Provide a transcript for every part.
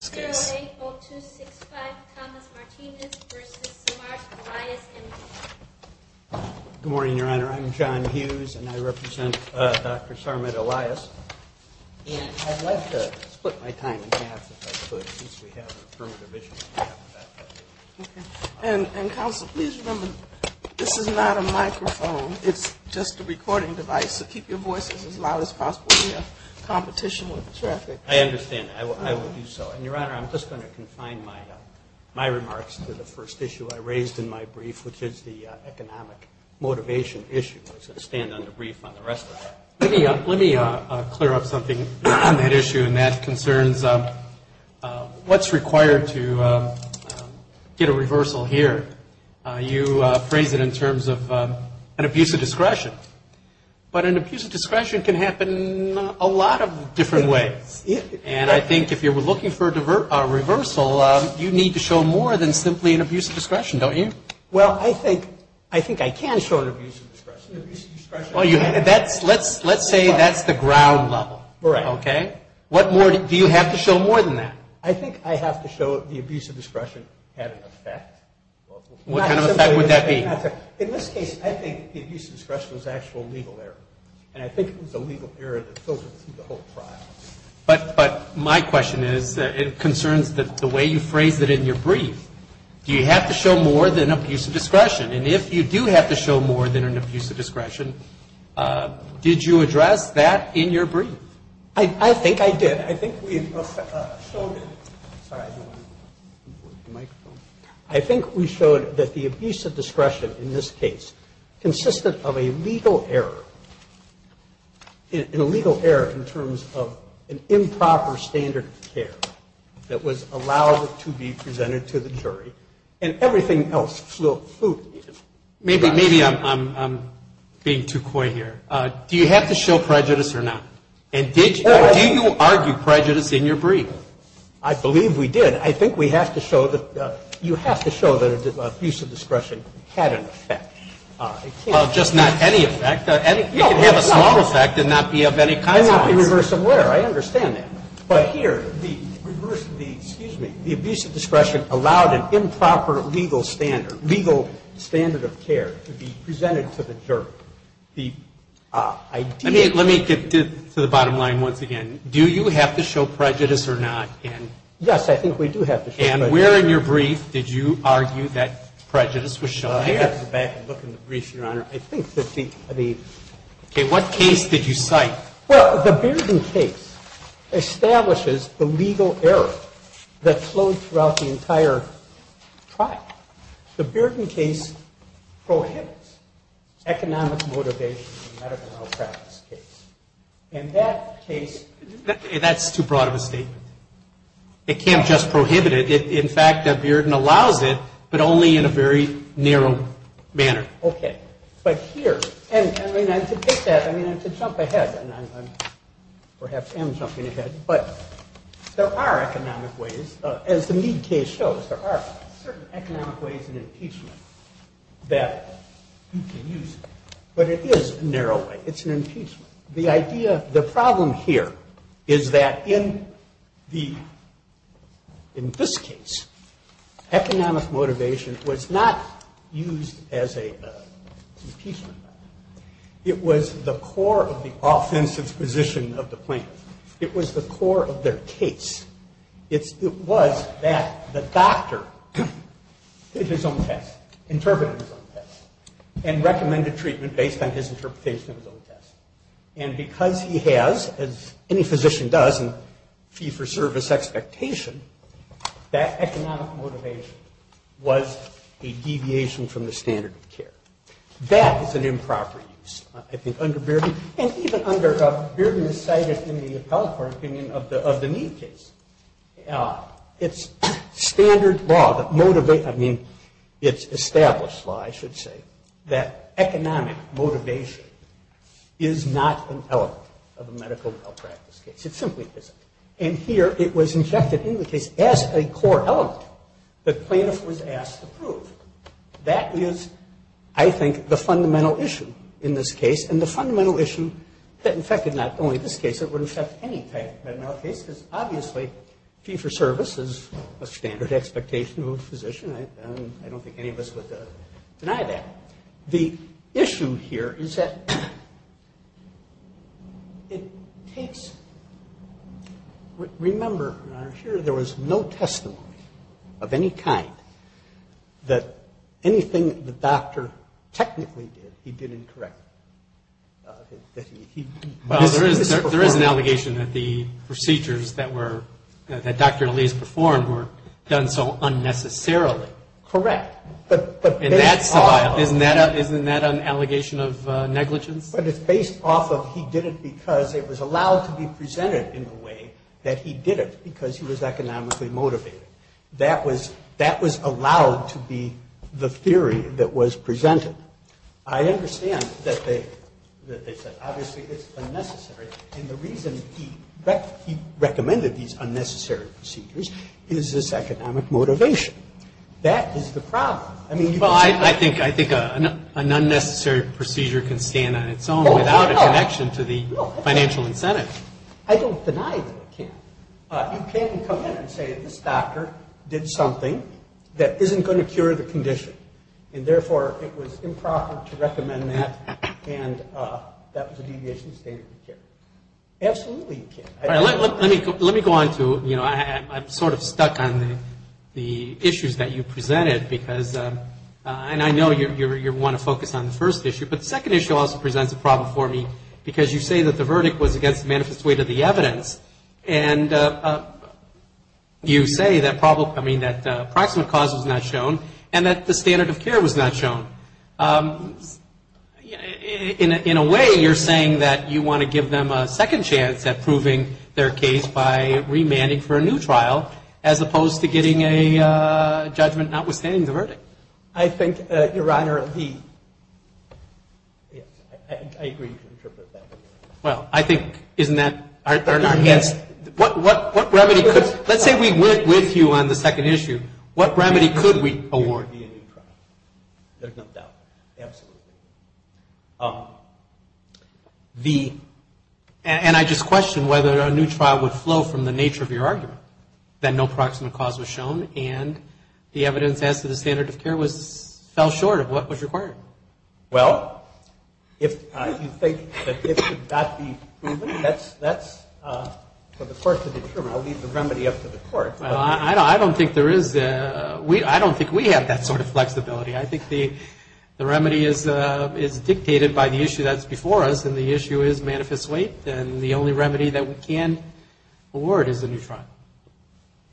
Good morning, Your Honor. I'm John Hughes, and I represent Dr. Sarma at Elias, and I'd like to split my time in half if I could, since we have affirmative issues. And counsel, please remember, this is not a microphone. It's just a recording device, so keep your voices as loud as possible. We have competition with traffic. I understand. I will do so. And, Your Honor, I'm just going to confine my remarks to the first issue I raised in my brief, which is the economic motivation issue. I'm going to stand on the brief on the rest of it. Let me clear up something on that issue, and that concerns what's required to get a reversal here. You phrased it in terms of an abuse of discretion, but an abuse of discretion can happen a lot of different ways. And I think if you're looking for a reversal, you need to show more than simply an abuse of discretion, don't you? Well, I think I can show an abuse of discretion. Let's say that's the ground level. Right. Okay? What more do you have to show more than that? I think I have to show the abuse of discretion had an effect. What kind of effect would that be? In this case, I think the abuse of discretion was an actual legal error, and I think it was a legal error that filtered through the whole trial. But my question is, it concerns the way you phrased it in your brief. Do you have to show more than abuse of discretion? And if you do have to show more than an abuse of discretion, did you address that in your brief? I think I did. I think we showed it. I think we showed that the abuse of discretion in this case consisted of a legal error, an illegal error in terms of an improper standard of care that was allowed to be presented to the jury, and everything else flew. Maybe I'm being too coy here. Do you have to show prejudice or not? And did you argue prejudice in your brief? I believe we did. I think we have to show that you have to show that abuse of discretion had an effect. Well, just not any effect. It could have a small effect and not be of any consequence. And not be reverse of where. I understand that. But here, the abuse of discretion allowed an improper legal standard, legal standard of care, to be presented to the jury. Let me get to the bottom line once again. Do you have to show prejudice or not? Yes, I think we do have to show prejudice. And where in your brief did you argue that prejudice was shown? Let me go back and look in the brief, Your Honor. What case did you cite? Well, the Bearden case establishes the legal error that flowed throughout the entire trial. The Bearden case prohibits economic motivation in the medical malpractice case. And that case ñ That's too broad of a statement. It can't just prohibit it. In fact, Bearden allows it, but only in a very narrow manner. Okay. But here, and I mean, to get that, I mean, to jump ahead, and I perhaps am jumping ahead, but there are economic ways, as the Mead case shows, there are certain economic ways in impeachment that you can use. But it is a narrow way. It's an impeachment. The idea ñ the problem here is that in the ñ in this case, economic motivation was not used as an impeachment. It was the core of the offensive position of the plaintiff. It was the core of their case. It was that the doctor did his own test, interpreted his own test, and recommended treatment based on his interpretation of his own test. And because he has, as any physician does, a fee-for-service expectation, that economic motivation was a deviation from the standard of care. That is an improper use, I think, under Bearden. And even under Bearden, as cited in the appellate court opinion of the Mead case, it's standard law that motivates ñ I mean, it's established law, I should say, that economic motivation is not an element of a medical malpractice case. It simply isn't. And here, it was injected into the case as a core element that plaintiff was asked to prove. That is, I think, the fundamental issue in this case, and the fundamental issue that infected not only this case, it would infect any type of medical case, because obviously fee-for-service is a standard expectation of a physician. I don't think any of us would deny that. The issue here is that it takes ñ remember, Your Honor, here there was no testimony of any kind that anything the doctor technically did, he did incorrectly, that he misperformed. Well, there is an allegation that the procedures that were ñ that Dr. Lees performed were done so unnecessarily. Correct. But based off of ñ And that's ñ isn't that an allegation of negligence? But it's based off of he did it because it was allowed to be presented in the way that he did it, because he was economically motivated. That was allowed to be the theory that was presented. I understand that they said, obviously, it's unnecessary, and the reason he recommended these unnecessary procedures is this economic motivation. That is the problem. I mean, you can say ñ Well, I think an unnecessary procedure can stand on its own without a connection to the financial incentive. I don't deny that it can. You can come in and say this doctor did something that isn't going to cure the condition, and therefore it was improper to recommend that, and that was a deviation of standard of care. Absolutely you can. Let me go on to ñ you know, I'm sort of stuck on the issues that you presented, because ñ and I know you want to focus on the first issue, but the second issue also presents a problem for me, because you say that the verdict was against the manifest weight of the evidence, and you say that approximate cause was not shown, and that the standard of care was not shown. In a way, you're saying that you want to give them a second chance at proving their case by remanding for a new trial, as opposed to getting a judgment notwithstanding the verdict. I think, Your Honor, the ñ yes, I agree you can interpret that. Well, I think, isn't that ñ what remedy could ñ let's say we went with you on the second issue. What remedy could we award? There's no doubt. Absolutely. The ñ and I just question whether a new trial would flow from the nature of your argument, that no approximate cause was shown, and the evidence as to the standard of care was ñ fell short of what was required. Well, if you think that it should not be proven, that's for the court to determine. I'll leave the remedy up to the court. Well, I don't think there is ñ I don't think we have that sort of flexibility. I think the remedy is dictated by the issue that's before us, and the issue is manifest weight, and the only remedy that we can award is a new trial.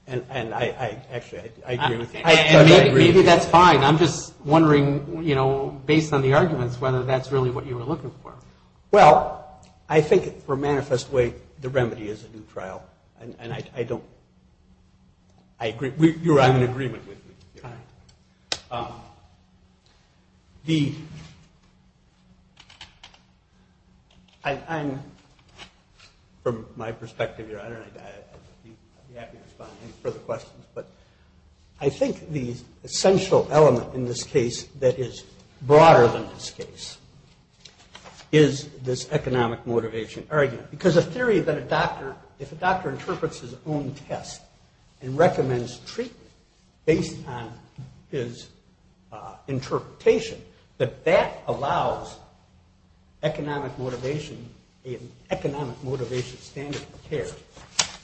And I actually ñ I agree with you. Maybe that's fine. I'm just wondering, you know, based on the arguments, whether that's really what you were looking for. Well, I think for manifest weight, the remedy is a new trial, and I don't ñ I agree ñ you're on an agreement with me. All right. The ñ I'm ñ from my perspective, Your Honor, I'd be happy to respond to any further questions, but I think the essential element in this case that is broader than this case is this economic motivation argument. Because a theory that a doctor ñ if a doctor interprets his own test and recommends treatment based on his interpretation, that that allows economic motivation ñ an economic motivation standard of care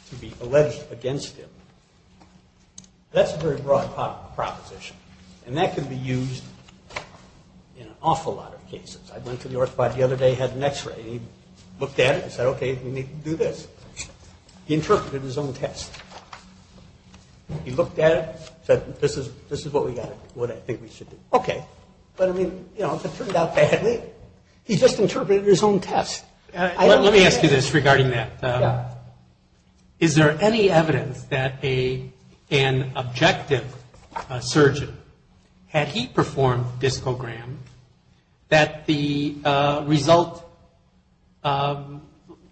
to be alleged against him. That's a very broad proposition, and that can be used in an awful lot of cases. I went to the orthopedic the other day, had an x-ray, and he looked at it and said, okay, we need to do this. He interpreted his own test. He looked at it, said, this is what we got ñ what I think we should do. Okay. But, I mean, you know, if it turned out badly, he just interpreted his own test. Let me ask you this regarding that. Yeah. Is there any evidence that an objective surgeon, had he performed this program, that the result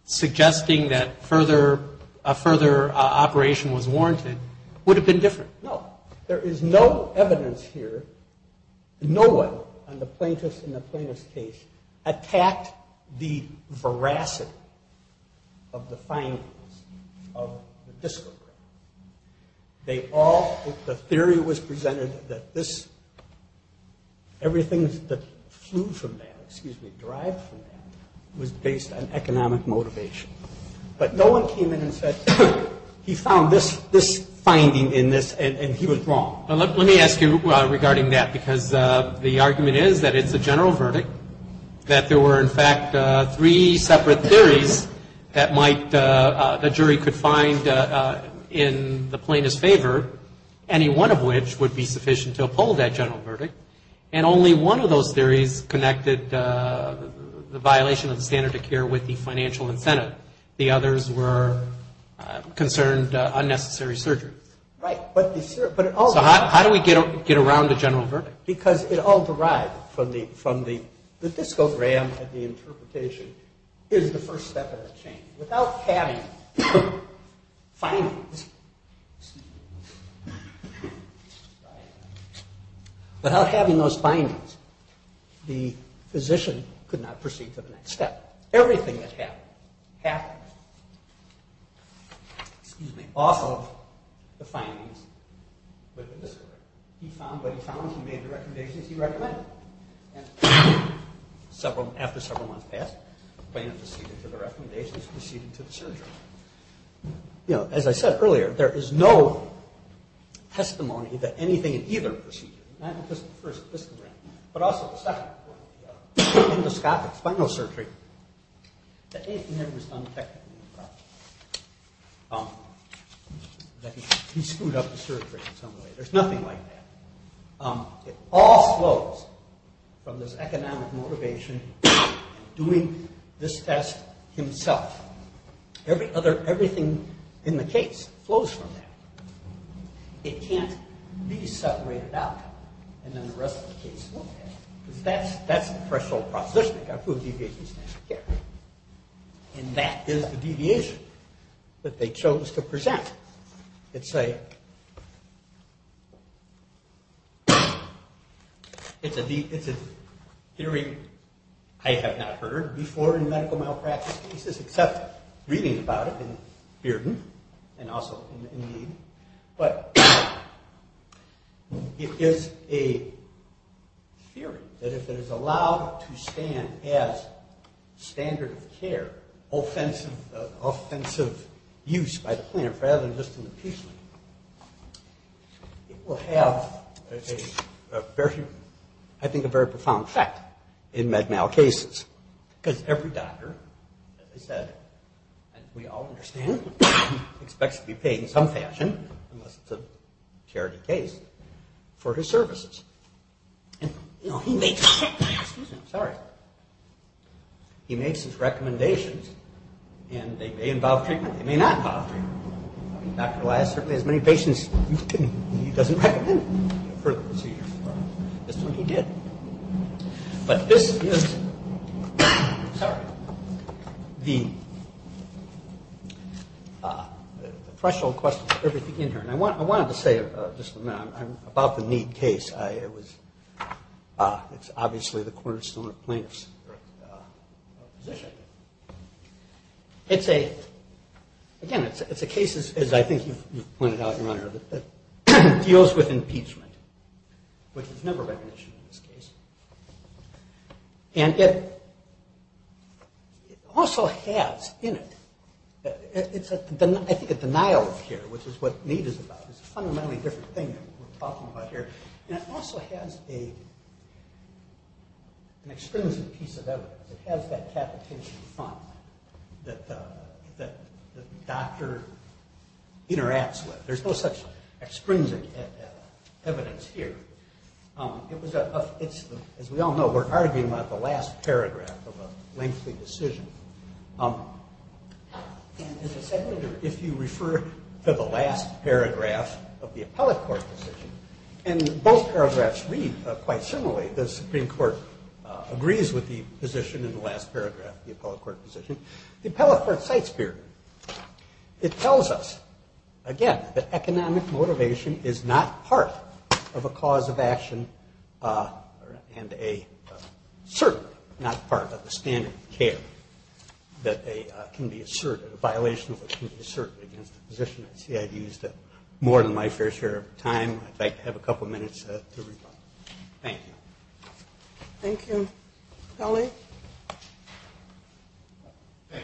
suggesting that further operation was warranted would have been different? No. There is no evidence here. No one in the plaintiffís case attacked the veracity of the findings of the disco. They all ñ the theory was presented that this ñ everything that flew from that, excuse me, derived from that, was based on economic motivation. But no one came in and said, he found this finding in this, and he was wrong. Let me ask you regarding that, because the argument is that itís a general verdict, that there were, in fact, three separate theories that might ñ the jury could find in the plaintiffís favor, any one of which would be sufficient to uphold that general verdict, and only one of those theories connected the violation of the standard of care with the financial incentive. The others were concerned unnecessary surgery. Right. So how do we get around the general verdict? Because it all derived from the discogram and the interpretation. Hereís the first step of the chain. Without having findings, excuse me, without having those findings, the physician could not proceed to the next step. Everything that happened happened off of the findings with the discogram. He found what he found. He made the recommendations he recommended. And after several months passed, the plaintiff proceeded to the recommendations, proceeded to the surgery. You know, as I said earlier, there is no testimony that anything in either procedure, not just the first discogram, but also the second one, endoscopic spinal surgery, that anything there was undetected. He screwed up the surgery in some way. Thereís nothing like that. It all flows from this economic motivation, doing this test himself. Everything in the case flows from that. It canít be separated out and then the rest of the case will be. Because thatís the threshold proposition. Weíve got to prove deviation of standard of care. And that is the deviation that they chose to present. Itís a theory I have not heard before in medical malpractice cases, except reading about it in Bearden and also in Mead. But it is a theory that if it is allowed to stand as standard of care, offensive use by the plaintiff rather than just an appeasement, it will have, I think, a very profound effect in med mal cases. Because every doctor, as I said, as we all understand, expects to be paid in some fashion, unless itís a charity case, for his services. And, you know, he makesóexcuse me, Iím sorryóhe makes his recommendations and they may involve treatment, they may not involve treatment. Dr. Elias certainly has many patients he doesnít recommend further procedure for. This one he did. But this isósorryóthe threshold question for everything in here. And I wanted to say, just a minute, about the Mead case. Itís obviously the cornerstone of plaintiffsí position. Itís aóagain, itís a case, as I think youíve pointed out, Your Honor, that deals with impeachment, which is never recognition in this case. And it also has in itóI think a denial of care, which is what Mead is about. Itís a fundamentally different thing that weíre talking about here. And it also has an extrinsic piece of evidence. It has that capitation front that the doctor interacts with. Thereís no such extrinsic evidence here. It was aóas we all know, weíre arguing about the last paragraph of a lengthy decision. As a seconder, if you refer to the last paragraph of the appellate court decisionó and both paragraphs read quite similarly. The Supreme Court agrees with the position in the last paragraph of the appellate court decision. The appellate court cites hereóit tells us, again, that economic motivation is not part of a cause of action and a certainónot part of a standard of careóthat can be assertedó a violation of what can be asserted against a physician. I see Iíve used up more than my fair share of time. Iíd like to have a couple of minutes to respond. Thank you. Thank you. Kelly? Thank you,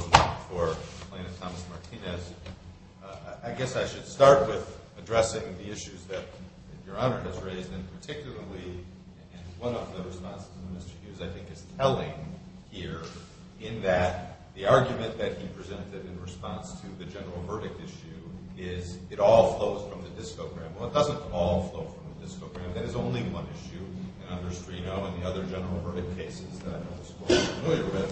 Your Honor. Richard Rosenblatt for plaintiff, Thomas Martinez. I guess I should start with addressing the issues that Your Honor has raised, and particularlyóand one of the responses to Mr. Hughes, I think, is telling hereó in that the argument that he presented in response to the general verdict issue is, ìIt all flows from the discogram.î Well, it doesnít all flow from the discogram. That is only one issue. And under Strino and the other general verdict cases that I know this Court is familiar with,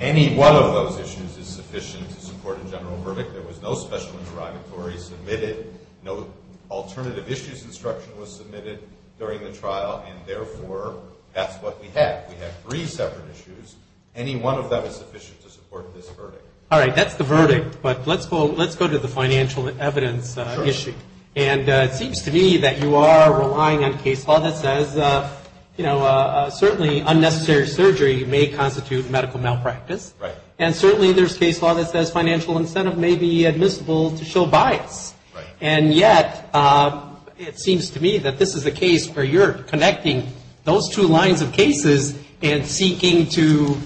any one of those issues is sufficient to support a general verdict. There was no special interrogatory submitted. No alternative issues instruction was submitted during the trial, and therefore thatís what we have. We have three separate issues. Any one of them is sufficient to support this verdict. All right. Thatís the verdict. But letís go to the financial evidence issue. And it seems to me that you are relying on case law that says, you know, certainly unnecessary surgery may constitute medical malpractice. Right. And certainly thereís case law that says financial incentive may be admissible to show bias. Right. And yet, it seems to me that this is a case where youíre connecting those two lines of cases and seeking to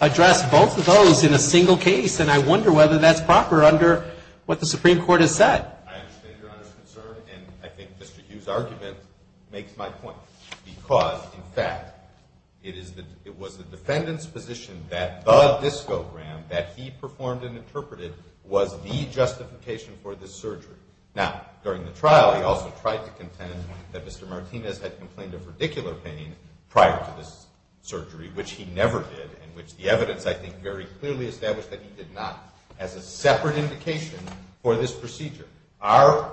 address both of those in a single case, and I wonder whether thatís proper under what the Supreme Court has said. I understand Your Honorís concern, and I think Mr. Hughesí argument makes my point. Because, in fact, it was the defendantís position that the discogram that he performed and interpreted was the justification for this surgery. Now, during the trial, he also tried to contend that Mr. Martinez had complained of radicular pain prior to this surgery, which he never did, and which the evidence, I think, very clearly established that he did not, as a separate indication for this procedure. Our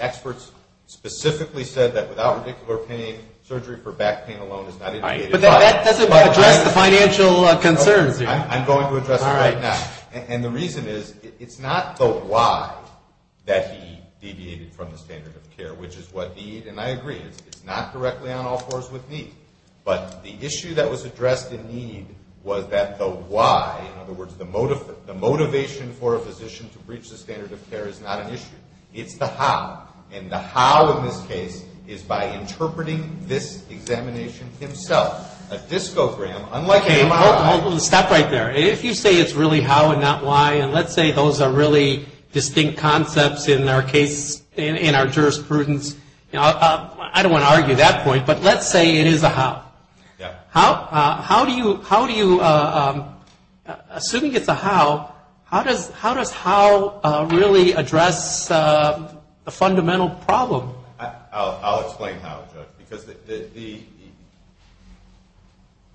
experts specifically said that without radicular pain, surgery for back pain alone is not indicated. But that doesnít address the financial concerns. Iím going to address it right now. And the reason is, itís not the why that he deviated from the standard of care, which is what the, and I agree, itís not directly on all fours with me, but the issue that was addressed in need was that the why, in other words, the motivation for a physician to breach the standard of care is not an issue. Itís the how. And the how in this case is by interpreting this examination himself. A discogram, unlike a MRI. Okay, hold on. Stop right there. If you say itís really how and not why, and letís say those are really distinct concepts in our case, in our jurisprudence, I donít want to argue that point, but letís say it is a how. Yeah. How do you, assuming itís a how, how does how really address the fundamental problem? Iíll explain how, Judge, because the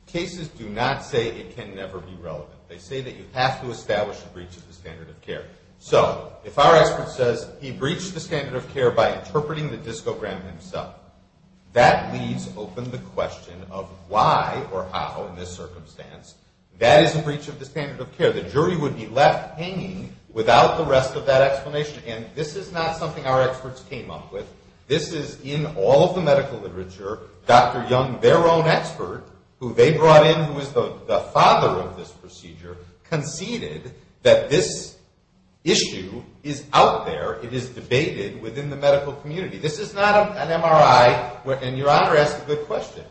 cases do not say it can never be relevant. They say that you have to establish a breach of the standard of care. So if our expert says he breached the standard of care by interpreting the discogram himself, that leaves open the question of why or how, in this circumstance, that is a breach of the standard of care. The jury would be left hanging without the rest of that explanation. And this is not something our experts came up with. This is in all of the medical literature. Dr. Young, their own expert, who they brought in, who is the father of this procedure, conceded that this issue is out there. It is debated within the medical community. This is not an MRI, and your Honor asked a good question.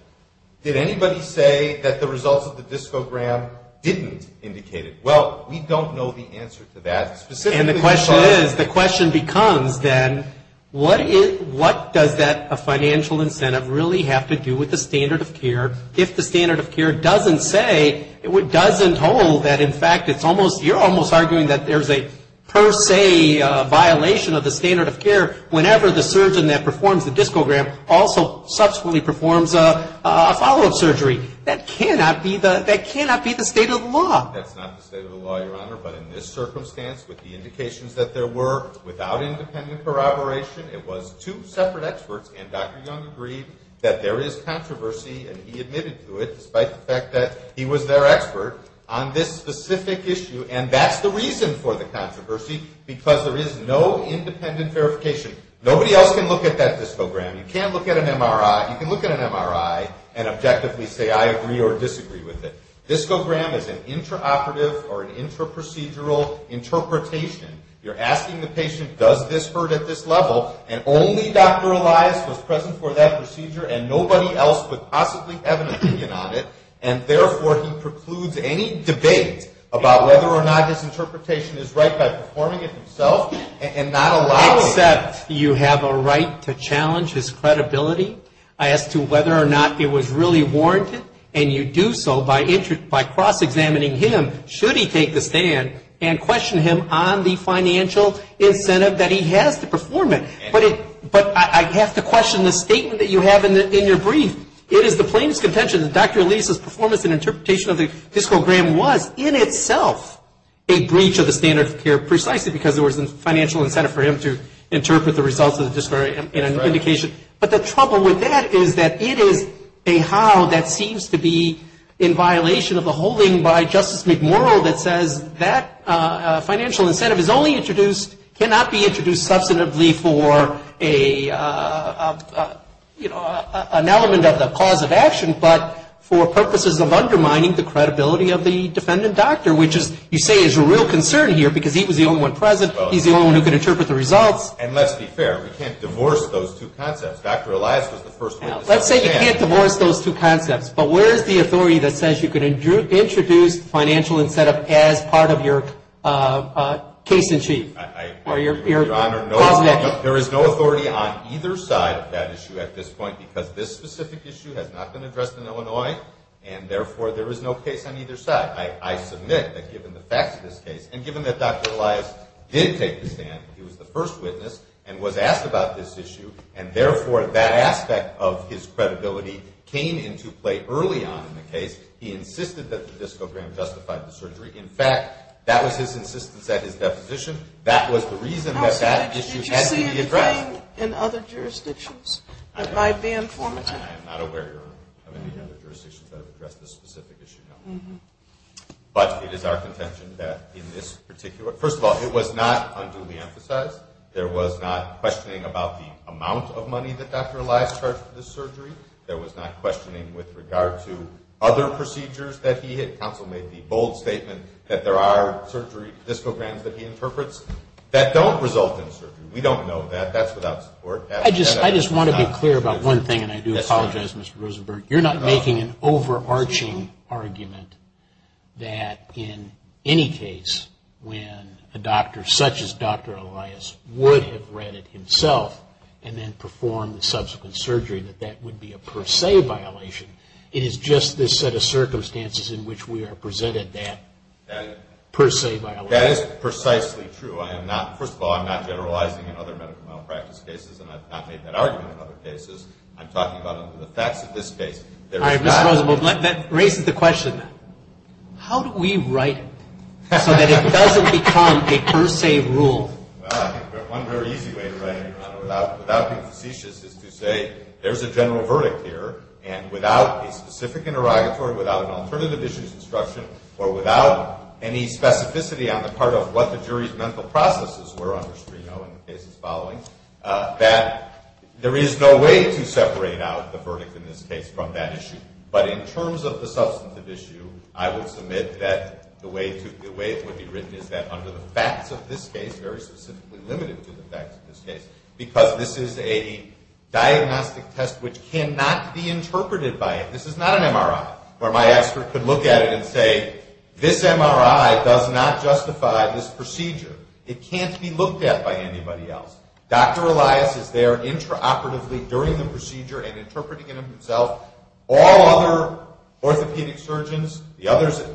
Did anybody say that the results of the discogram didnít indicate it? Well, we donít know the answer to that. And the question is, the question becomes, then, what does that financial incentive really have to do with the standard of care if the standard of care doesnít say, doesnít hold that, in fact, itís almost, youíre almost arguing that thereís a per se violation of the standard of care whenever the surgeon that performs the discogram also subsequently performs a follow-up surgery. That cannot be the state of the law. Thatís not the state of the law, Your Honor, but in this circumstance, with the indications that there were, without independent corroboration, it was two separate experts, and Dr. Young agreed that there is controversy, and he admitted to it, despite the fact that he was their expert, on this specific issue. And thatís the reason for the controversy, because there is no independent verification. Nobody else can look at that discogram. You canít look at an MRI. You can look at an MRI and objectively say, I agree or disagree with it. Discogram is an intraoperative or an intraprocedural interpretation. Youíre asking the patient, does this hurt at this level, and only Dr. Elias was present for that procedure, and nobody else would possibly have an opinion on it, and therefore he precludes any debate about whether or not his interpretation is right by performing it himself and not allowing it. Except you have a right to challenge his credibility as to whether or not it was really warranted, and you do so by cross-examining him, should he take the stand, and question him on the financial incentive that he has to perform it. But I have to question the statement that you have in your brief. It is the plaintiffís contention that Dr. Eliasís performance and interpretation of the discogram was in itself a breach of the standard of care, precisely because there was a financial incentive for him to interpret the results of the discogram in an indication. But the trouble with that is that it is a how that seems to be in violation of the holding by Justice McMurro that says that financial incentive is only introduced, cannot be introduced substantively for an element of the cause of action, but for purposes of undermining the credibility of the defendant doctor, which you say is a real concern here because he was the only one present, heís the only one who could interpret the results. And letís be fair, we canít divorce those two concepts. Dr. Elias was the first witness. Letís say you canít divorce those two concepts, but where is the authority that says you can introduce financial incentive as part of your case in chief? Your Honor, there is no authority on either side of that issue at this point because this specific issue has not been addressed in Illinois, and therefore there is no case on either side. I submit that given the facts of this case, and given that Dr. Elias did take the stand, he was the first witness and was asked about this issue, and therefore that aspect of his credibility came into play early on in the case. He insisted that the discogram justified the surgery. In fact, that was his insistence at his deposition. That was the reason that that issue had to be addressed. Did you see anything in other jurisdictions that might be informative? I am not aware of any other jurisdictions that have addressed this specific issue, no. But it is our contention that in this particularófirst of all, it was not unduly emphasized. There was not questioning about the amount of money that Dr. Elias charged for this surgery. There was not questioning with regard to other procedures that he hit. The State Council made the bold statement that there are surgery discograms that he interprets that don't result in surgery. We don't know that. That's without support. I just want to be clear about one thing, and I do apologize, Mr. Rosenberg. You're not making an overarching argument that in any case, when a doctor such as Dr. Elias would have read it himself and then performed the subsequent surgery, that that would be a per se violation. It is just this set of circumstances in which we are presented that per se violation. That is precisely true. First of all, I'm not generalizing in other medical malpractice cases, and I've not made that argument in other cases. I'm talking about the facts of this case. All right, Mr. Rosenberg, that raises the question. How do we write it so that it doesn't become a per se rule? Well, I think one very easy way to write it, Your Honor, without being facetious, is to say there's a general verdict here, and without a specific interrogatory, without an alternative issues instruction, or without any specificity on the part of what the jury's mental processes were under Strino in the cases following, that there is no way to separate out the verdict in this case from that issue. But in terms of the substantive issue, I would submit that the way it would be written is that under the facts of this case, very specifically limited to the facts of this case, because this is a diagnostic test which cannot be interpreted by it. This is not an MRI, where my expert could look at it and say, this MRI does not justify this procedure. It can't be looked at by anybody else. Dr. Elias is there intraoperatively during the procedure and interpreting it himself. All other orthopedic surgeons,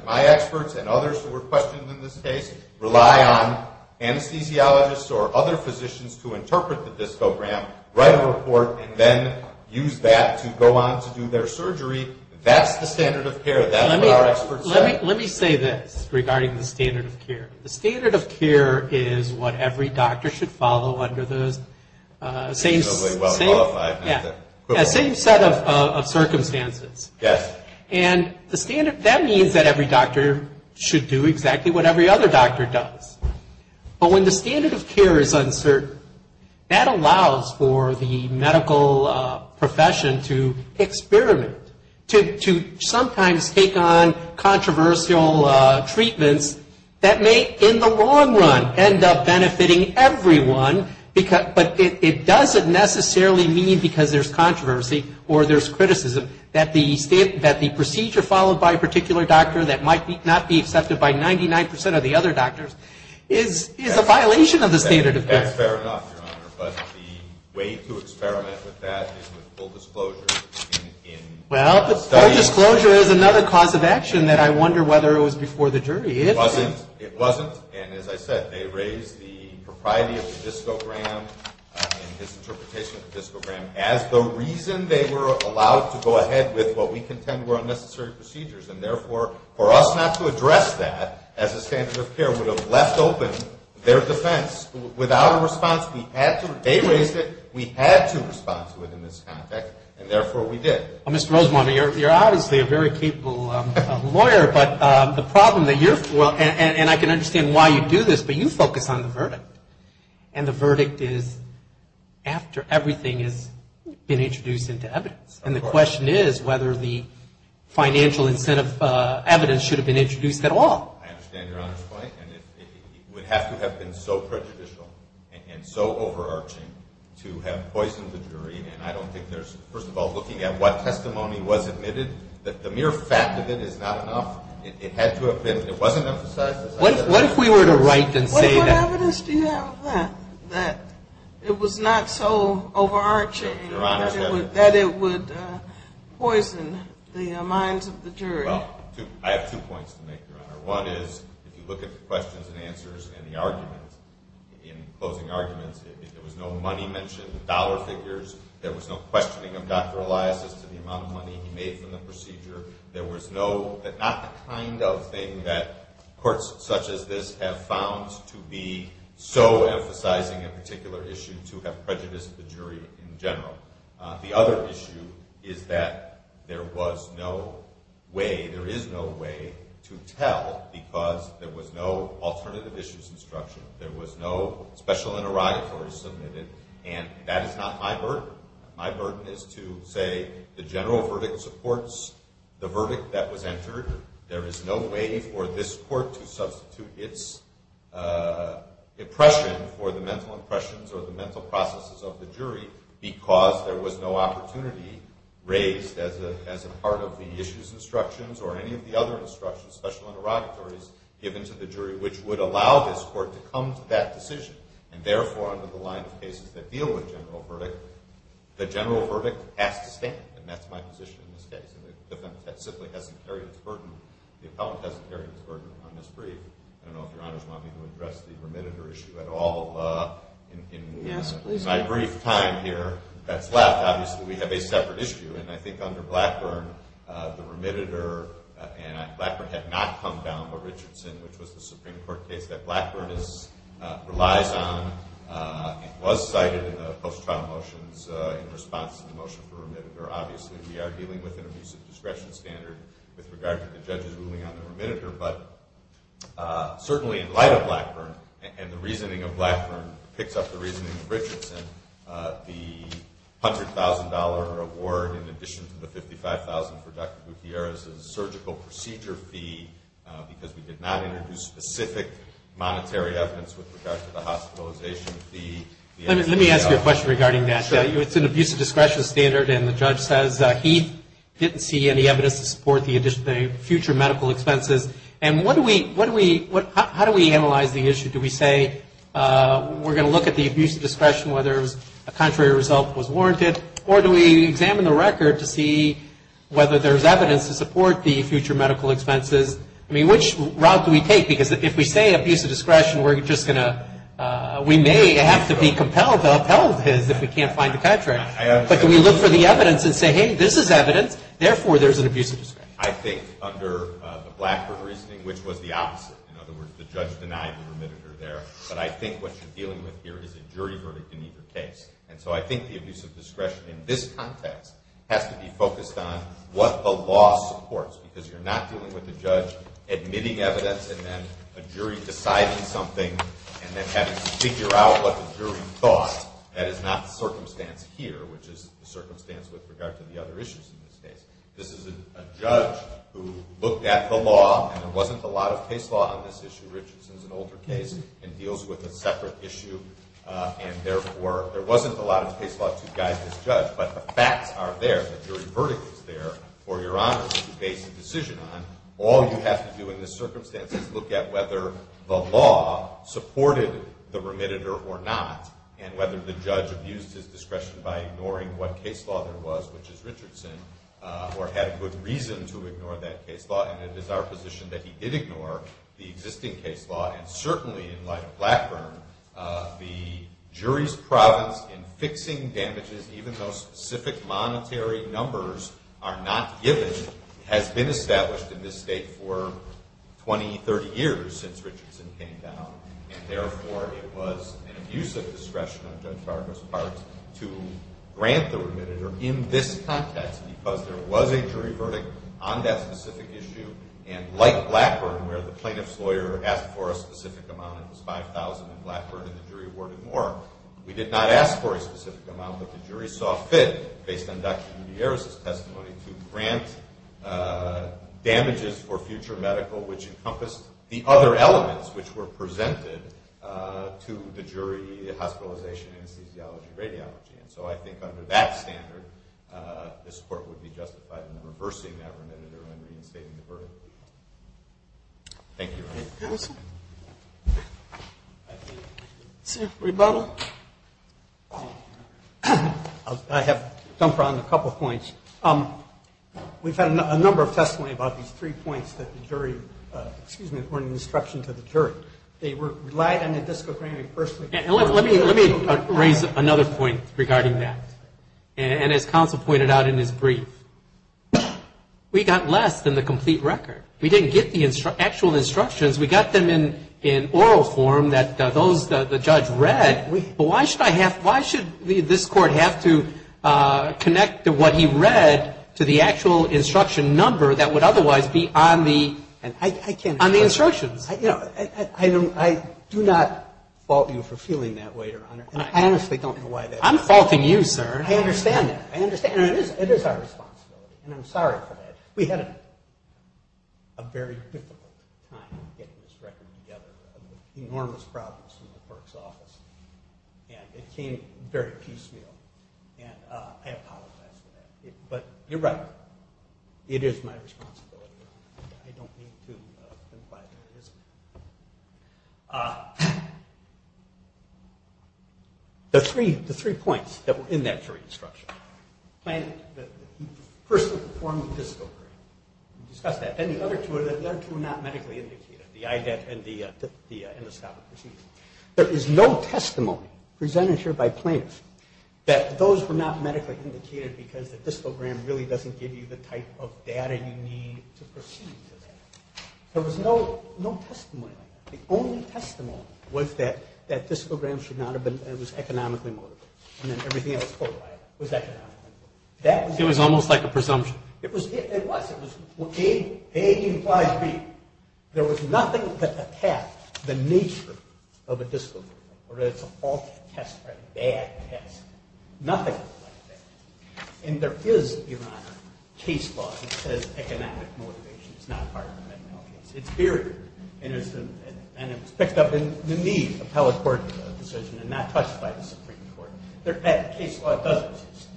my experts and others who were questioned in this case, rely on anesthesiologists or other physicians to interpret the discogram, write a report, and then use that to go on to do their surgery. That's the standard of care. That's what our experts say. Let me say this regarding the standard of care. The standard of care is what every doctor should follow under those same set of circumstances. Yes. And that means that every doctor should do exactly what every other doctor does. But when the standard of care is uncertain, that allows for the medical profession to experiment, to sometimes take on controversial treatments that may in the long run end up benefiting everyone, but it doesn't necessarily mean because there's controversy or there's criticism that the procedure followed by a particular doctor that might not be accepted by 99 percent of the other doctors is a violation of the standard of care. That's fair enough, Your Honor, but the way to experiment with that is with full disclosure. Well, but full disclosure is another cause of action that I wonder whether it was before the jury. It wasn't. It wasn't, and as I said, they raised the propriety of the discogram in his interpretation of the discogram as the reason they were allowed to go ahead with what we contend were unnecessary procedures. And, therefore, for us not to address that as a standard of care would have left open their defense. Without a response, we had to. They raised it. We had to respond to it in this context, and, therefore, we did. Mr. Rosenbaum, you're obviously a very capable lawyer, but the problem that you're for, and the verdict is after everything has been introduced into evidence, and the question is whether the financial incentive evidence should have been introduced at all. I understand Your Honor's point, and it would have to have been so prejudicial and so overarching to have poisoned the jury. And I don't think there's, first of all, looking at what testimony was admitted, that the mere fact of it is not enough. It wasn't emphasized, as I said. What if we were to write and say that? What evidence do you have of that, that it was not so overarching that it would poison the minds of the jury? Well, I have two points to make, Your Honor. One is, if you look at the questions and answers and the arguments, in closing arguments, there was no money mentioned, dollar figures. There was no questioning of Dr. Elias' to the amount of money he made from the procedure. There was no, not the kind of thing that courts such as this have found to be so emphasizing a particular issue to have prejudiced the jury in general. The other issue is that there was no way, there is no way to tell because there was no alternative issues instruction. There was no special interrogatory submitted, and that is not my burden. My burden is to say the general verdict supports the verdict that was entered. There is no way for this court to substitute its impression for the mental impressions or the mental processes of the jury because there was no opportunity raised as a part of the issues instructions or any of the other instructions, special interrogatories given to the jury, which would allow this court to come to that decision and therefore under the line of cases that deal with general verdict, the general verdict has to stand, and that's my position in this case. It simply hasn't carried its burden, the appellant hasn't carried its burden on this brief. I don't know if your honors want me to address the remitted or issue at all in my brief time here that's left. Obviously, we have a separate issue, and I think under Blackburn, the remitted or, Blackburn had not come down with Richardson, which was the Supreme Court case that Blackburn relies on. It was cited in the post-trial motions in response to the motion for remitted, or obviously we are dealing with an abusive discretion standard with regard to the judge's ruling on the remitted, but certainly in light of Blackburn and the reasoning of Blackburn picks up the reasoning of Richardson, the $100,000 award in addition to the $55,000 for Dr. Gutierrez's surgical procedure fee because we did not introduce specific monetary evidence with regard to the hospitalization fee. Let me ask you a question regarding that. It's an abusive discretion standard, and the judge says he didn't see any evidence to support the future medical expenses, and what do we, how do we analyze the issue? Do we say we're going to look at the abusive discretion whether a contrary result was warranted, or do we examine the record to see whether there's evidence to support the future medical expenses? I mean, which route do we take? Because if we say abusive discretion, we're just going to, we may have to be compelled to upheld his if we can't find the contract. But do we look for the evidence and say, hey, this is evidence, therefore there's an abusive discretion? I think under the Blackburn reasoning, which was the opposite, in other words, the judge denied the remitted are there, but I think what you're dealing with here is a jury verdict in either case, and so I think the abusive discretion in this context has to be focused on what the law supports, because you're not dealing with the judge admitting evidence and then a jury deciding something and then having to figure out what the jury thought. That is not the circumstance here, which is the circumstance with regard to the other issues in this case. This is a judge who looked at the law, and there wasn't a lot of case law on this issue. Richardson's an older case and deals with a separate issue, and therefore there wasn't a lot of case law to guide this judge, but the facts are there, the jury verdict is there for your honors to base a decision on. All you have to do in this circumstance is look at whether the law supported the remitted are or not and whether the judge abused his discretion by ignoring what case law there was, which is Richardson, or had a good reason to ignore that case law. And it is our position that he did ignore the existing case law, and certainly in light of Blackburn, the jury's province in fixing damages, even though specific monetary numbers are not given, has been established in this state for 20, 30 years since Richardson came down, and therefore it was an abusive discretion on Judge Barber's part to grant the remitted are in this context because there was a jury verdict on that specific issue, and like Blackburn, where the plaintiff's lawyer asked for a specific amount, and it was $5,000, and Blackburn and the jury awarded more, we did not ask for a specific amount, but the jury saw fit, based on Dr. Gutierrez's testimony, to grant damages for future medical, which encompassed the other elements which were presented to the jury, hospitalization, anesthesiology, radiology. And so I think under that standard, this Court would be justified in reversing that remitted are and reinstating the verdict. Thank you. Thank you, sir. Sir, rebuttal? I have to jump around a couple points. We've had a number of testimony about these three points that the jury, excuse me, were an instruction to the jury. They were light on the discovery. Let me raise another point regarding that. And as counsel pointed out in his brief, we got less than the complete record. We didn't get the actual instructions. We got them in oral form that the judge read, but why should I have, why should this Court have to connect what he read to the actual instruction number that would otherwise be on the instructions? You know, I do not fault you for feeling that way, Your Honor. I honestly don't know why that is. I'm faulting you, sir. I understand that. I understand. It is our responsibility. And I'm sorry for that. We had a very difficult time getting this record together. Enormous problems in the clerk's office. And it came very piecemeal. And I apologize for that. But you're right. It is my responsibility. I don't mean to imply that it isn't. The three points that were in that jury instruction. First, the form of the discovery. We discussed that. And the other two were not medically indicated, the IDAT and the scopic procedure. There is no testimony presented here by plaintiffs that those were not medically indicated because the There was no testimony. The only testimony was that that discogram should not have been economically motivated. And then everything else was economically motivated. It was almost like a presumption. It was. A implies B. There was nothing that attacked the nature of a discogram. Whether it's a faulty test or a bad test. Nothing like that. And there is, Your Honor, case law that says economic motivation is not part of a medical case. It's buried. And it was picked up in the need appellate court decision and not touched by the Supreme Court. Case law does exist.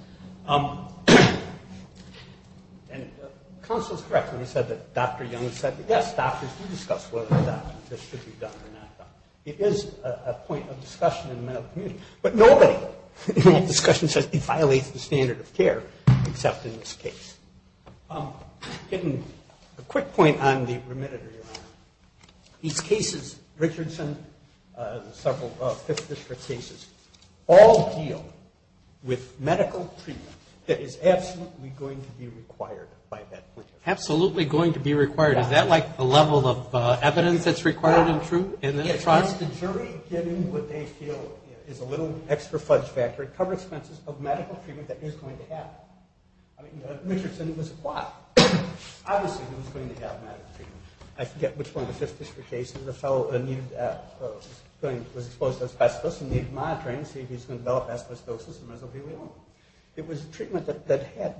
Counsel is correct when he said that Dr. Young said, yes, doctors, we discussed whether or not this should be done or not done. It is a point of discussion in the medical community. But nobody in that discussion says it violates the standard of care, except in this case. A quick point on the remitter, Your Honor. These cases, Richardson, the several fifth district cases, all deal with medical treatment that is absolutely going to be required. Absolutely going to be required. Is that like the level of evidence that's required and true? The jury, given what they feel is a little extra fudge factor, covers expenses of medical treatment that is going to happen. I mean, Richardson was caught. Obviously he was going to have medical treatment. I forget which one of the fifth district cases the fellow was exposed to asbestos and needed monitoring to see if he was going to develop asbestosis. It was a treatment that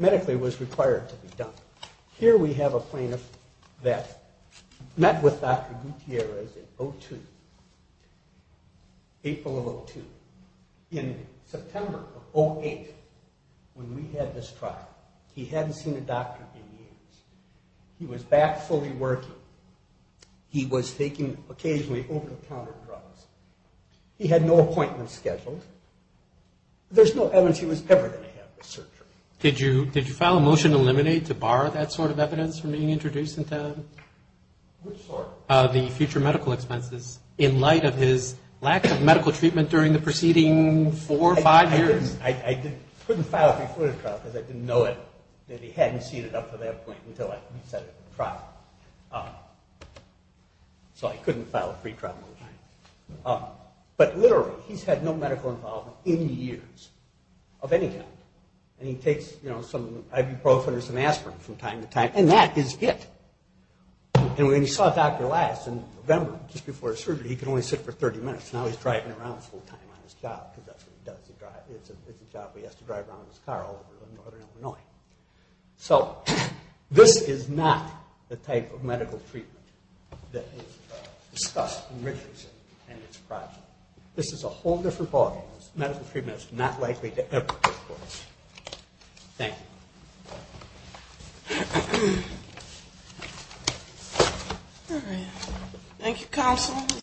medically was required to be done. Here we have a plaintiff that met with Dr. Gutierrez in 2002, April of 2002. In September of 2008, when we had this trial, he hadn't seen a doctor in years. He was back fully working. He was taking occasionally over-the-counter drugs. He had no appointments scheduled. There's no evidence he was ever going to have this surgery. Did you file a motion to eliminate, to bar that sort of evidence from being introduced into the future medical expenses, in light of his lack of medical treatment during the preceding four or five years? I couldn't file a free trial because I didn't know that he hadn't seen it up to that point until I resetted the trial. So I couldn't file a free trial motion. But literally, he's had no medical involvement in years of any kind. And he takes some ibuprofen or some aspirin from time to time, and that is it. And when he saw Dr. Elias in November, just before his surgery, he could only sit for 30 minutes. Now he's driving around full time on his job because that's what he does. It's a job where he has to drive around in his car all over northern Illinois. So this is not the type of medical treatment that is discussed in Richardson and its project. This is a whole different ballgame. Medical treatment is not likely to ever take place. Thank you. Thank you, Counsel.